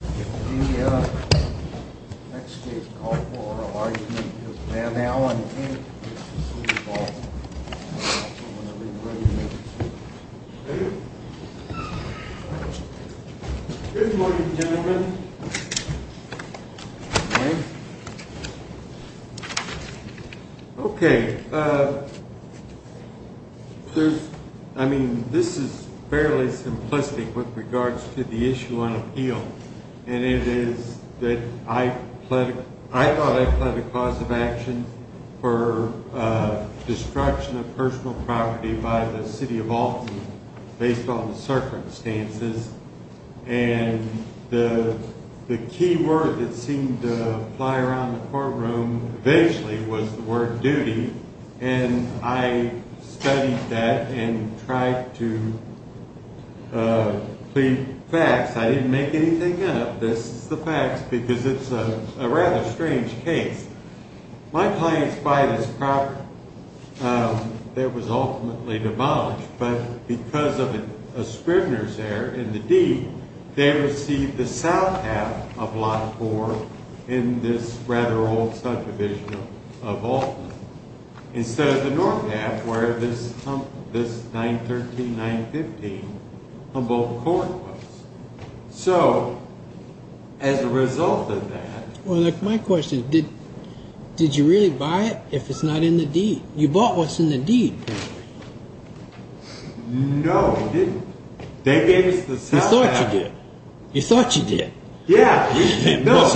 The next case called for argument is Van Alen v. City of Alton. I'm going to leave it right here. Thank you. Good morning. Okay. I mean, this is fairly simplistic with regards to the issue on appeal. And it is that I thought I pled a cause of action for destruction of personal property by the City of Alton based on the circumstances. And the key word that seemed to fly around the courtroom eventually was the word duty. And I studied that and tried to plead facts. I didn't make anything up. This is the facts because it's a rather strange case. My clients buy this property that was ultimately demolished. But because of a scrivener's error in the deed, they received the south half of Lot 4 in this rather old subdivision of Alton instead of the north half where this 913-915 Humboldt Court was. So, as a result of that… Well, my question is, did you really buy it if it's not in the deed? You bought what's in the deed. No, we didn't. They gave us the south half. You thought you did. You thought you did. Yeah. No,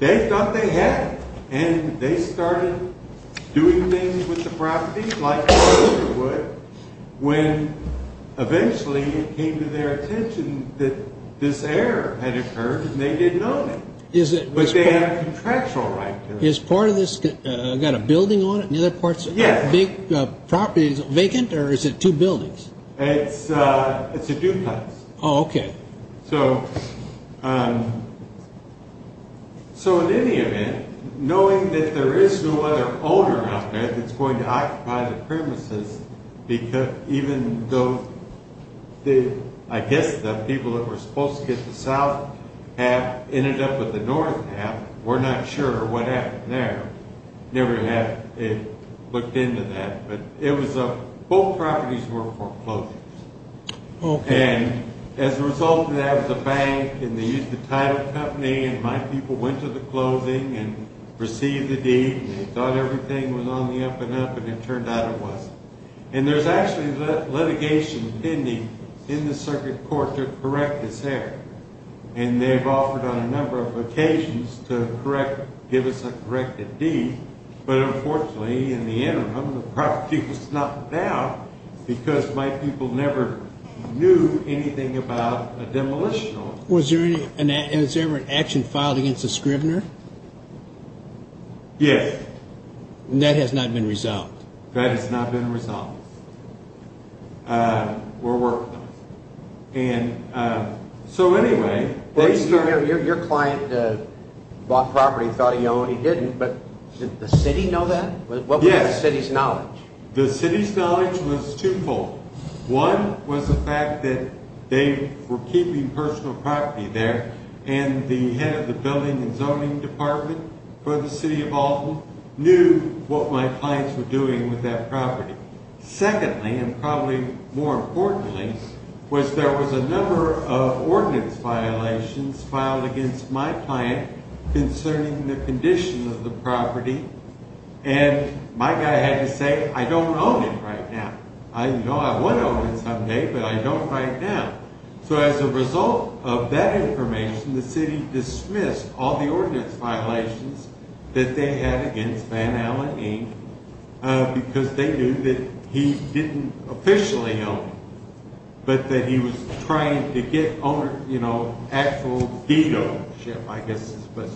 they thought they had it. And they started doing things with the property, like most would, when eventually it came to their attention that this error had occurred and they didn't own it. But they have contractual right to it. Is part of this… It's got a building on it and the other part's a big property. Is it vacant or is it two buildings? It's a duplex. Oh, okay. So, in any event, knowing that there is no other owner out there that's going to occupy the premises, even though I guess the people that were supposed to get the south half ended up with the north half, we're not sure what happened there. Never have looked into that. But both properties were foreclosed. Okay. And as a result of that, the bank and they used the title company and my people went to the clothing and received the deed and they thought everything was on the up and up and it turned out it wasn't. And there's actually litigation pending in the circuit court to correct this error. And they've offered on a number of occasions to correct, give us a corrected deed. But unfortunately, in the interim, the property was knocked down because my people never knew anything about a demolitional. Was there any, has there ever been an action filed against the Scrivener? Yes. And that has not been resolved? That has not been resolved. We're working on it. So anyway. Your client bought property, thought he owned, he didn't, but did the city know that? Yes. What was the city's knowledge? The city's knowledge was twofold. One was the fact that they were keeping personal property there and the head of the building and zoning department for the city of Alton knew what my clients were doing with that property. Secondly, and probably more importantly, was there was a number of ordinance violations filed against my client concerning the condition of the property. And my guy had to say, I don't own it right now. I want to own it someday, but I don't right now. So as a result of that information, the city dismissed all the ordinance violations that they had against Van Allen, Inc., because they knew that he didn't officially own it, but that he was trying to get actual deed ownership, I guess is the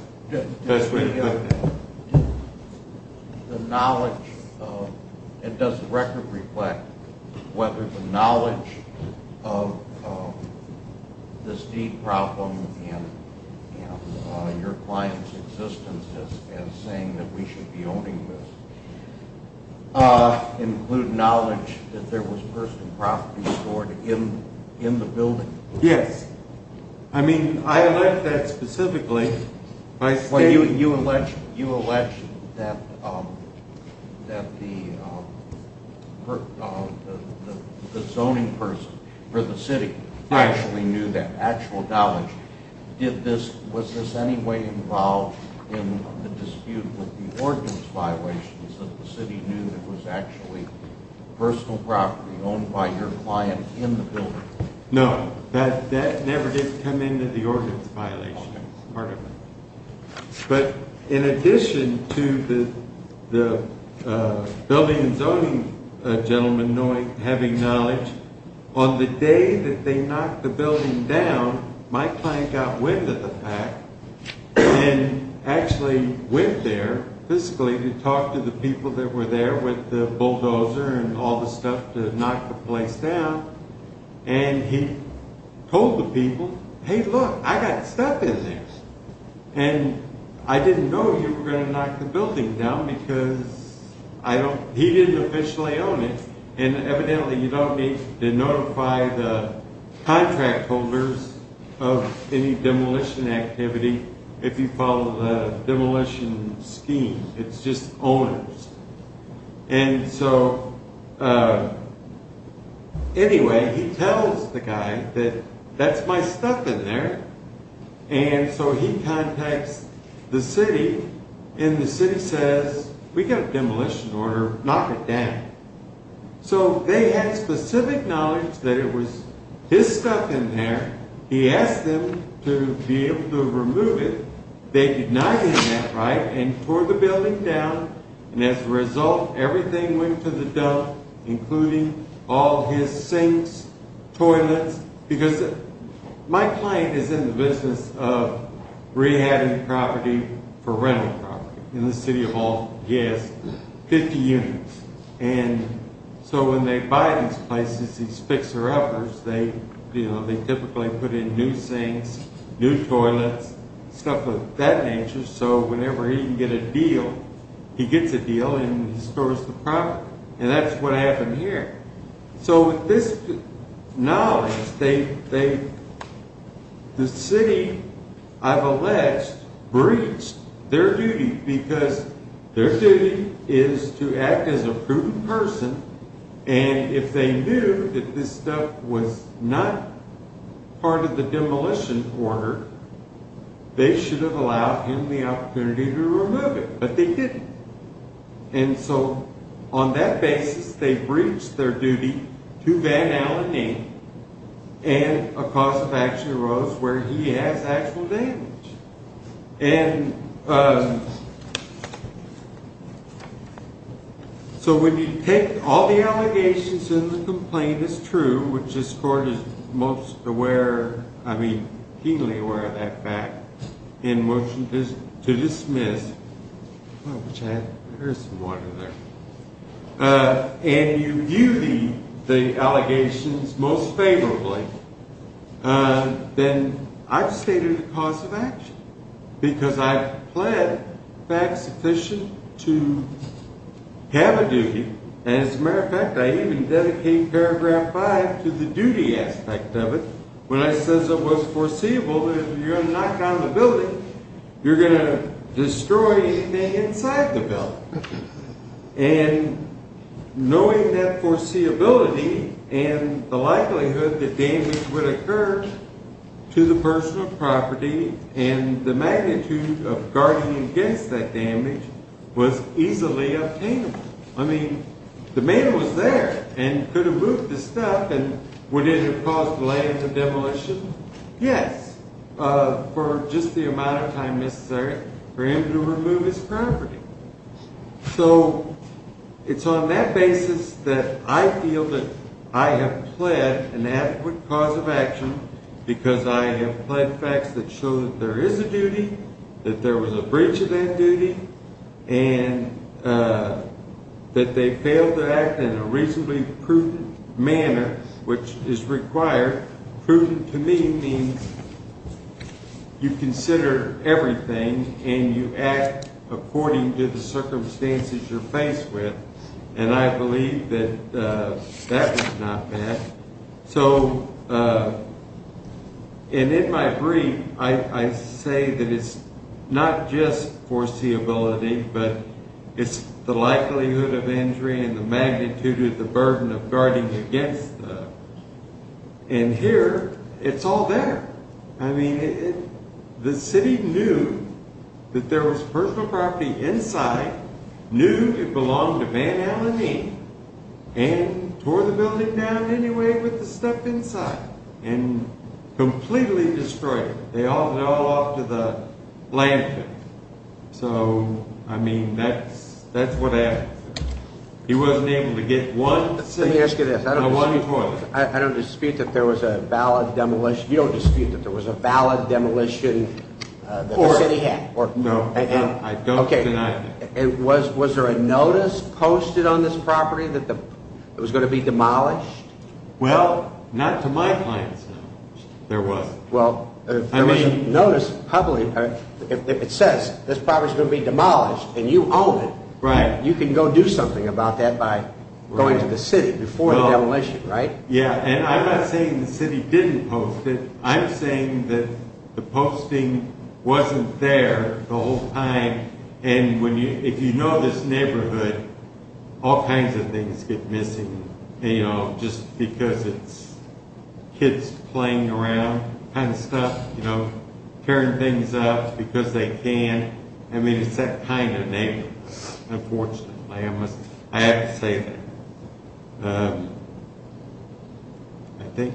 best way to put it. The knowledge, and does the record reflect whether the knowledge of this deed problem and your client's existence as saying that we should be owning this include knowledge that there was personal property stored in the building? Yes. I mean, I like that specifically. You alleged that the zoning person for the city actually knew that actual knowledge. Was this anyway involved in the dispute with the ordinance violations that the city knew that was actually personal property owned by your client in the building? No, that never did come into the ordinance violations part of it. But in addition to the building and zoning gentleman having knowledge, on the day that they knocked the building down, my client got wind of the fact and actually went there physically to talk to the people that were there with the bulldozer and all the stuff to knock the place down. And he told the people, hey, look, I got stuff in there. And I didn't know you were going to knock the building down because he didn't officially own it. And evidently, you don't need to notify the contract holders of any demolition activity if you follow the demolition scheme. It's just owners. And so anyway, he tells the guy that that's my stuff in there. And so he contacts the city and the city says, we got a demolition order, knock it down. So they had specific knowledge that it was his stuff in there. He asked them to be able to remove it. They did not get that right and tore the building down. And as a result, everything went to the dump, including all his sinks, toilets. Because my client is in the business of rehabbing property for rental property in the city of all, yes, 50 units. And so when they buy these places, these fixer uppers, they typically put in new sinks, new toilets, stuff of that nature. So whenever he can get a deal, he gets a deal and he stores the property. And that's what happened here. So with this knowledge, the city, I've alleged, breached their duty because their duty is to act as a proven person. And if they knew that this stuff was not part of the demolition order, they should have allowed him the opportunity to remove it. But they didn't. And so on that basis, they breached their duty to Van Allen Inc. and a cause of action arose where he has actual damage. And so when you take all the allegations and the complaint is true, which this court is most aware, I mean, keenly aware of that fact, and motion to dismiss, and you view the allegations most favorably, then I've stated a cause of action. Because I've pled facts sufficient to have a duty. As a matter of fact, I even dedicate paragraph five to the duty aspect of it. When it says it was foreseeable that if you're going to knock down the building, you're going to destroy anything inside the building. And knowing that foreseeability and the likelihood that damage would occur to the personal property and the magnitude of guarding against that damage was easily obtainable. I mean, the man was there and could have moved the stuff. And would it have caused delay in the demolition? Yes, for just the amount of time necessary for him to remove his property. So it's on that basis that I feel that I have pled an adequate cause of action because I have pled facts that show that there is a duty, that there was a breach of that duty, and that they failed to act in a reasonably prudent manner, which is required. Prudent to me means you consider everything and you act according to the circumstances you're faced with. And I believe that that was not bad. So, and in my brief, I say that it's not just foreseeability, but it's the likelihood of injury and the magnitude of the burden of guarding against that. And here, it's all there. I mean, the city knew that there was personal property inside, knew it belonged to Van Allen Dean, and tore the building down anyway with the stuff inside and completely destroyed it. They hauled it all off to the landfill. So, I mean, that's what happened. He wasn't able to get one seat in the one toilet. I don't dispute that there was a valid demolition. You don't dispute that there was a valid demolition that the city had? No, I don't deny that. Was there a notice posted on this property that it was going to be demolished? Well, not to my client's knowledge, there wasn't. Well, if there was a notice publicly, if it says this property is going to be demolished and you own it, you can go do something about that by going to the city before the demolition, right? Yeah, and I'm not saying the city didn't post it. I'm saying that the posting wasn't there the whole time. And if you know this neighborhood, all kinds of things get missing, you know, just because it's kids playing around kind of stuff, you know, tearing things up because they can. I mean, it's that kind of neighborhood, unfortunately. I have to say, I think,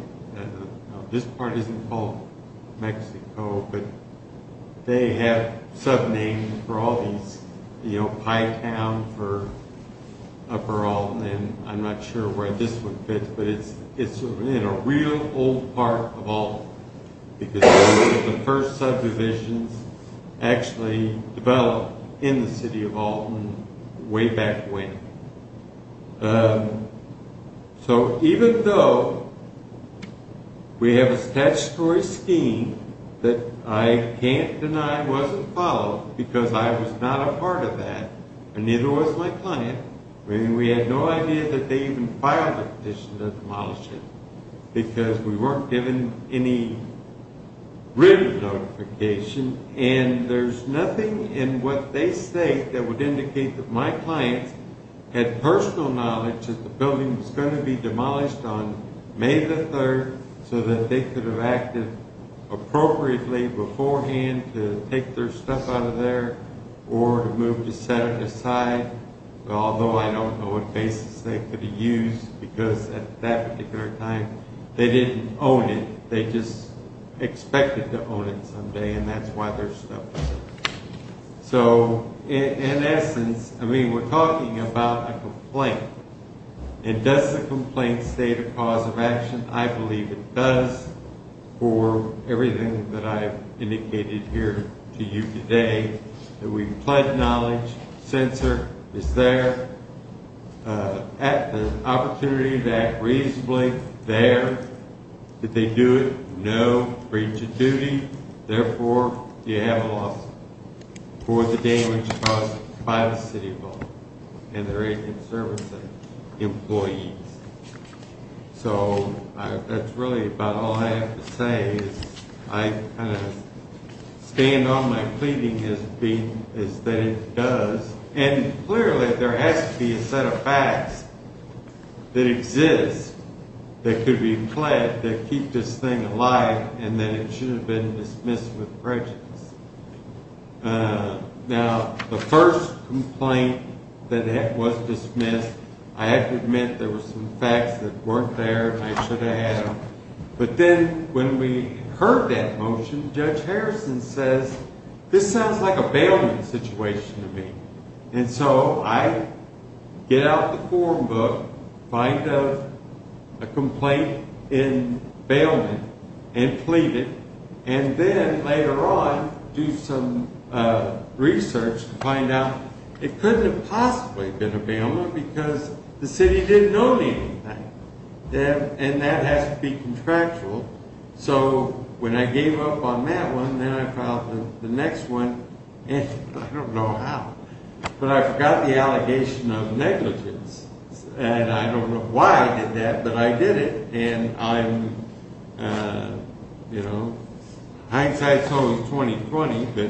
this part isn't called Mexico, but they have subnames for all these, you know, Pytown for Upper Alton, and I'm not sure where this one fits, but it's in a real old part of Alton. The first subdivisions actually developed in the city of Alton way back when. So, even though we have a statutory scheme that I can't deny wasn't followed because I was not a part of that, and neither was my client, I mean, we had no idea that they even filed a petition to demolish it because we weren't given any written notification. And there's nothing in what they say that would indicate that my client had personal knowledge that the building was going to be demolished on May the 3rd so that they could have acted appropriately beforehand to take their stuff out of there or to move to set it aside, although I don't know what basis they could have used because at that particular time they didn't own it. They just expected to own it someday, and that's why their stuff was there. So, in essence, I mean, we're talking about a complaint, and does the complaint state a cause of action? No breach of duty. Therefore, you have a loss for the damage caused by the city of Alton and their agents, servants, and employees. So, that's really about all I have to say. I kind of stand on my pleading as being that it does, and clearly there has to be a set of facts that exist that could be pledged that keep this thing alive and that it should have been dismissed with prejudice. Now, the first complaint that was dismissed, I have to admit there were some facts that weren't there and I should have had them. But then when we heard that motion, Judge Harrison says, this sounds like a bailment situation to me. And so I get out the form book, find a complaint in bailment, and plead it, and then later on do some research to find out it couldn't have possibly been a bailment because the city didn't own anything, and that has to be contractual. So, when I gave up on that one, then I filed the next one, and I don't know how, but I forgot the allegation of negligence. And I don't know why I did that, but I did it. And I'm, you know, hindsight's always 20-20, but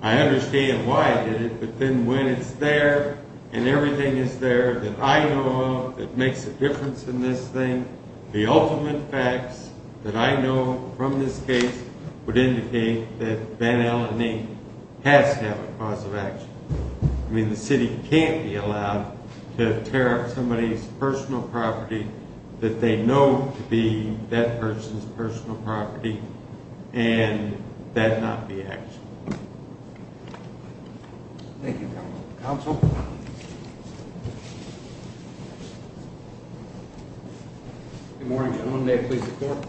I understand why I did it. But then when it's there and everything is there that I know of that makes a difference in this thing, the ultimate facts that I know from this case would indicate that Van Allen Inc. has to have a cause of action. I mean, the city can't be allowed to tear up somebody's personal property that they know to be that person's personal property and that not be action. Good morning, gentlemen. May it please the Court.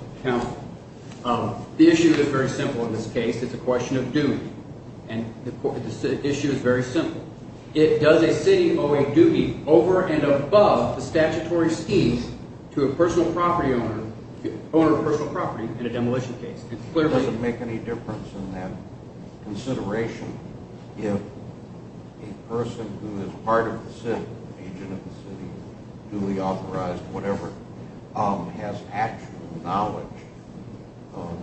The issue is very simple in this case. It's a question of duty. And the issue is very simple. It doesn't make any difference in that consideration if a person who is part of the city, agent of the city, duly authorized, whatever, has actual knowledge of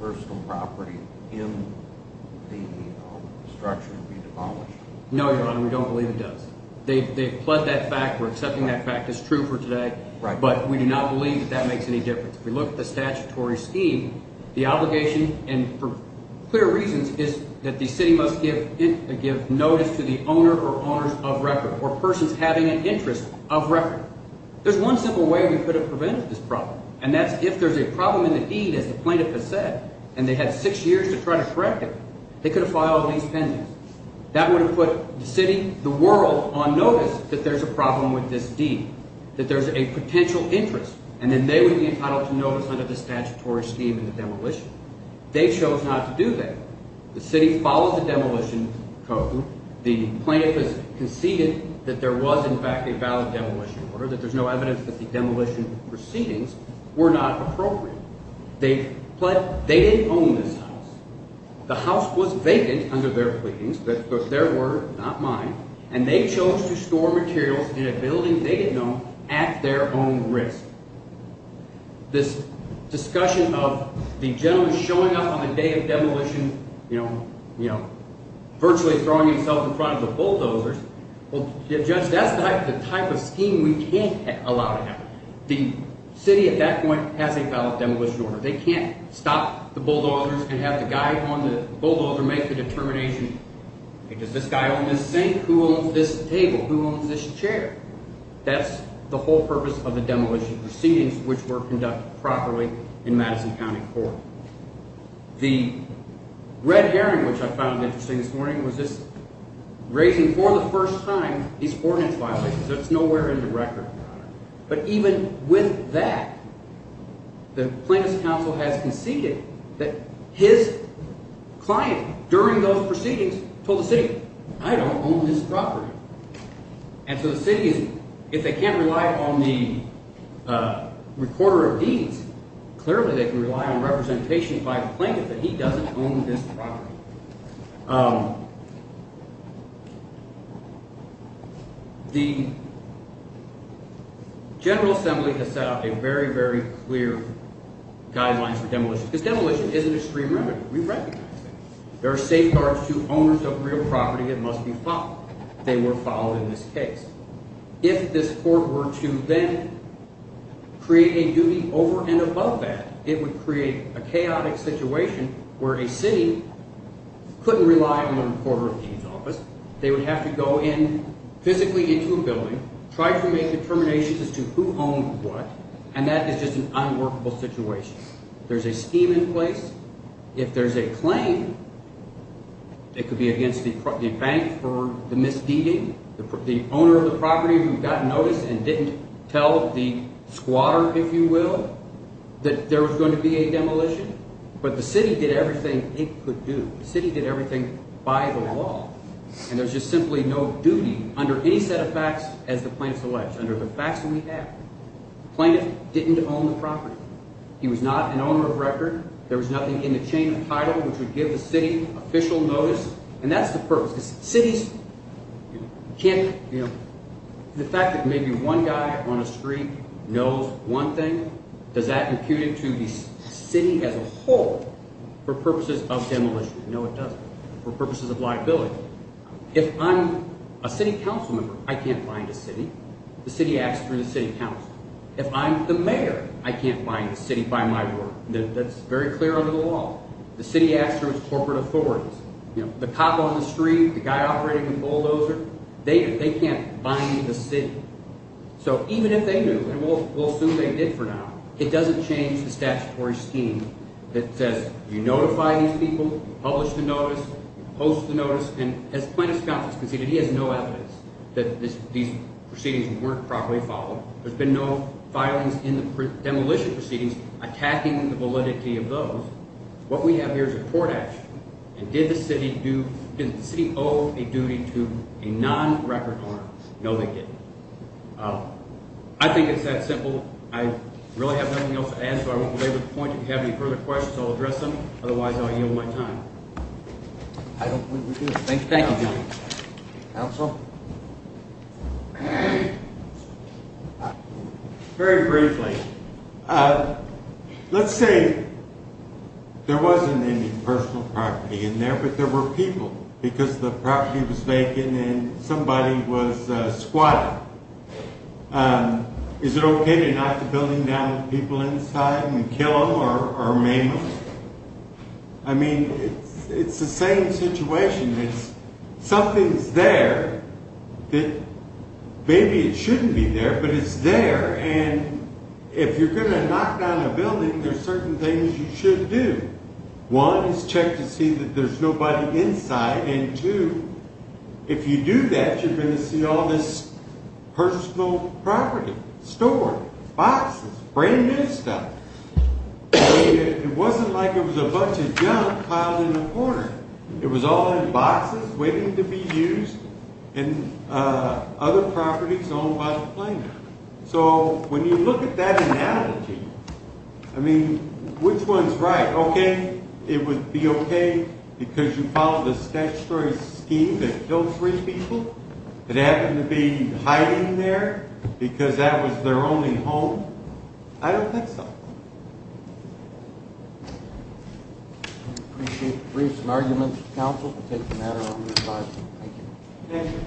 personal property in the structure of the utility. No, Your Honor, we don't believe it does. They've pled that fact. We're accepting that fact as true for today. But we do not believe that that makes any difference. If we look at the statutory scheme, the obligation, and for clear reasons, is that the city must give notice to the owner or owners of record or persons having an interest of record. There's one simple way we could have prevented this problem, and that's if there's a problem in the deed, as the plaintiff has said, and they had six years to try to correct it, they could have filed at least pending. That would have put the city, the world, on notice that there's a problem with this deed, that there's a potential interest, and then they would be entitled to notice under the statutory scheme in the demolition. They chose not to do that. The city followed the demolition code. The plaintiff has conceded that there was, in fact, a valid demolition order, that there's no evidence that the demolition proceedings were not appropriate. They didn't own this house. The house was vacant under their pleadings, but their word, not mine, and they chose to store materials in a building they didn't own at their own risk. This discussion of the gentleman showing up on the day of demolition virtually throwing himself in front of the bulldozers, well, Judge, that's the type of scheme we can't allow to happen. The city at that point has a valid demolition order. They can't stop the bulldozers and have the guy on the bulldozer make the determination, does this guy own this sink? Who owns this table? Who owns this chair? That's the whole purpose of the demolition proceedings, which were conducted properly in Madison County Court. The red herring, which I found interesting this morning, was just raising for the first time these ordinance violations. That's nowhere in the record. But even with that, the plaintiff's counsel has conceded that his client during those proceedings told the city, I don't own this property. And so the city is – if they can't rely on the recorder of deeds, clearly they can rely on representation by the plaintiff that he doesn't own this property. The General Assembly has set up a very, very clear guideline for demolition because demolition is an extreme remedy. We recognize that. There are safeguards to owners of real property that must be followed. They were followed in this case. If this court were to then create a duty over and above that, it would create a chaotic situation where a city couldn't rely on the recorder of deeds office. They would have to go in physically into a building, try to make determinations as to who owned what, and that is just an unworkable situation. There's a scheme in place. If there's a claim, it could be against the bank for the misdeeding, the owner of the property who got notice and didn't tell the squatter, if you will, that there was going to be a demolition. But the city did everything it could do. The city did everything by the law, and there's just simply no duty under any set of facts as the plaintiff selects, under the facts that we have. The plaintiff didn't own the property. He was not an owner of record. There was nothing in the chain of title which would give the city official notice, and that's the purpose. Because cities can't – the fact that maybe one guy on a street knows one thing, does that impute it to the city as a whole for purposes of demolition? No, it doesn't, for purposes of liability. If I'm a city council member, I can't bind a city. The city acts through the city council. If I'm the mayor, I can't bind the city by my word. That's very clear under the law. The city acts through its corporate authorities. The cop on the street, the guy operating the bulldozer, they can't bind the city. So even if they do, and we'll assume they did for now, it doesn't change the statutory scheme that says you notify these people, publish the notice, post the notice, and as plaintiff's counsel has conceded, he has no evidence that these proceedings weren't properly followed. There's been no filings in the demolition proceedings attacking the validity of those. What we have here is a court action, and did the city owe a duty to a non-record owner? No, they didn't. I think it's that simple. I really have nothing else to add, so I won't belabor the point. If you have any further questions, I'll address them. Otherwise, I'll yield my time. I don't think we do. Thank you. Very briefly, let's say there wasn't any personal property in there, but there were people because the property was vacant and somebody was squatting. Is it okay to knock the building down with people inside and kill them or maim them? I mean, it's the same situation. Something's there that maybe it shouldn't be there, but it's there, and if you're going to knock down a building, there's certain things you should do. One is check to see that there's nobody inside, and two, if you do that, you're going to see all this personal property stored, boxes, brand new stuff. It wasn't like it was a bunch of junk piled in a corner. It was all in boxes waiting to be used and other properties owned by the planner. So, when you look at that analogy, I mean, which one's right? Okay, it would be okay because you followed a statutory scheme that killed three people that happened to be hiding there because that was their only home? I don't think so. I appreciate the briefs and arguments. Council, we'll take the matter on this side. Thank you.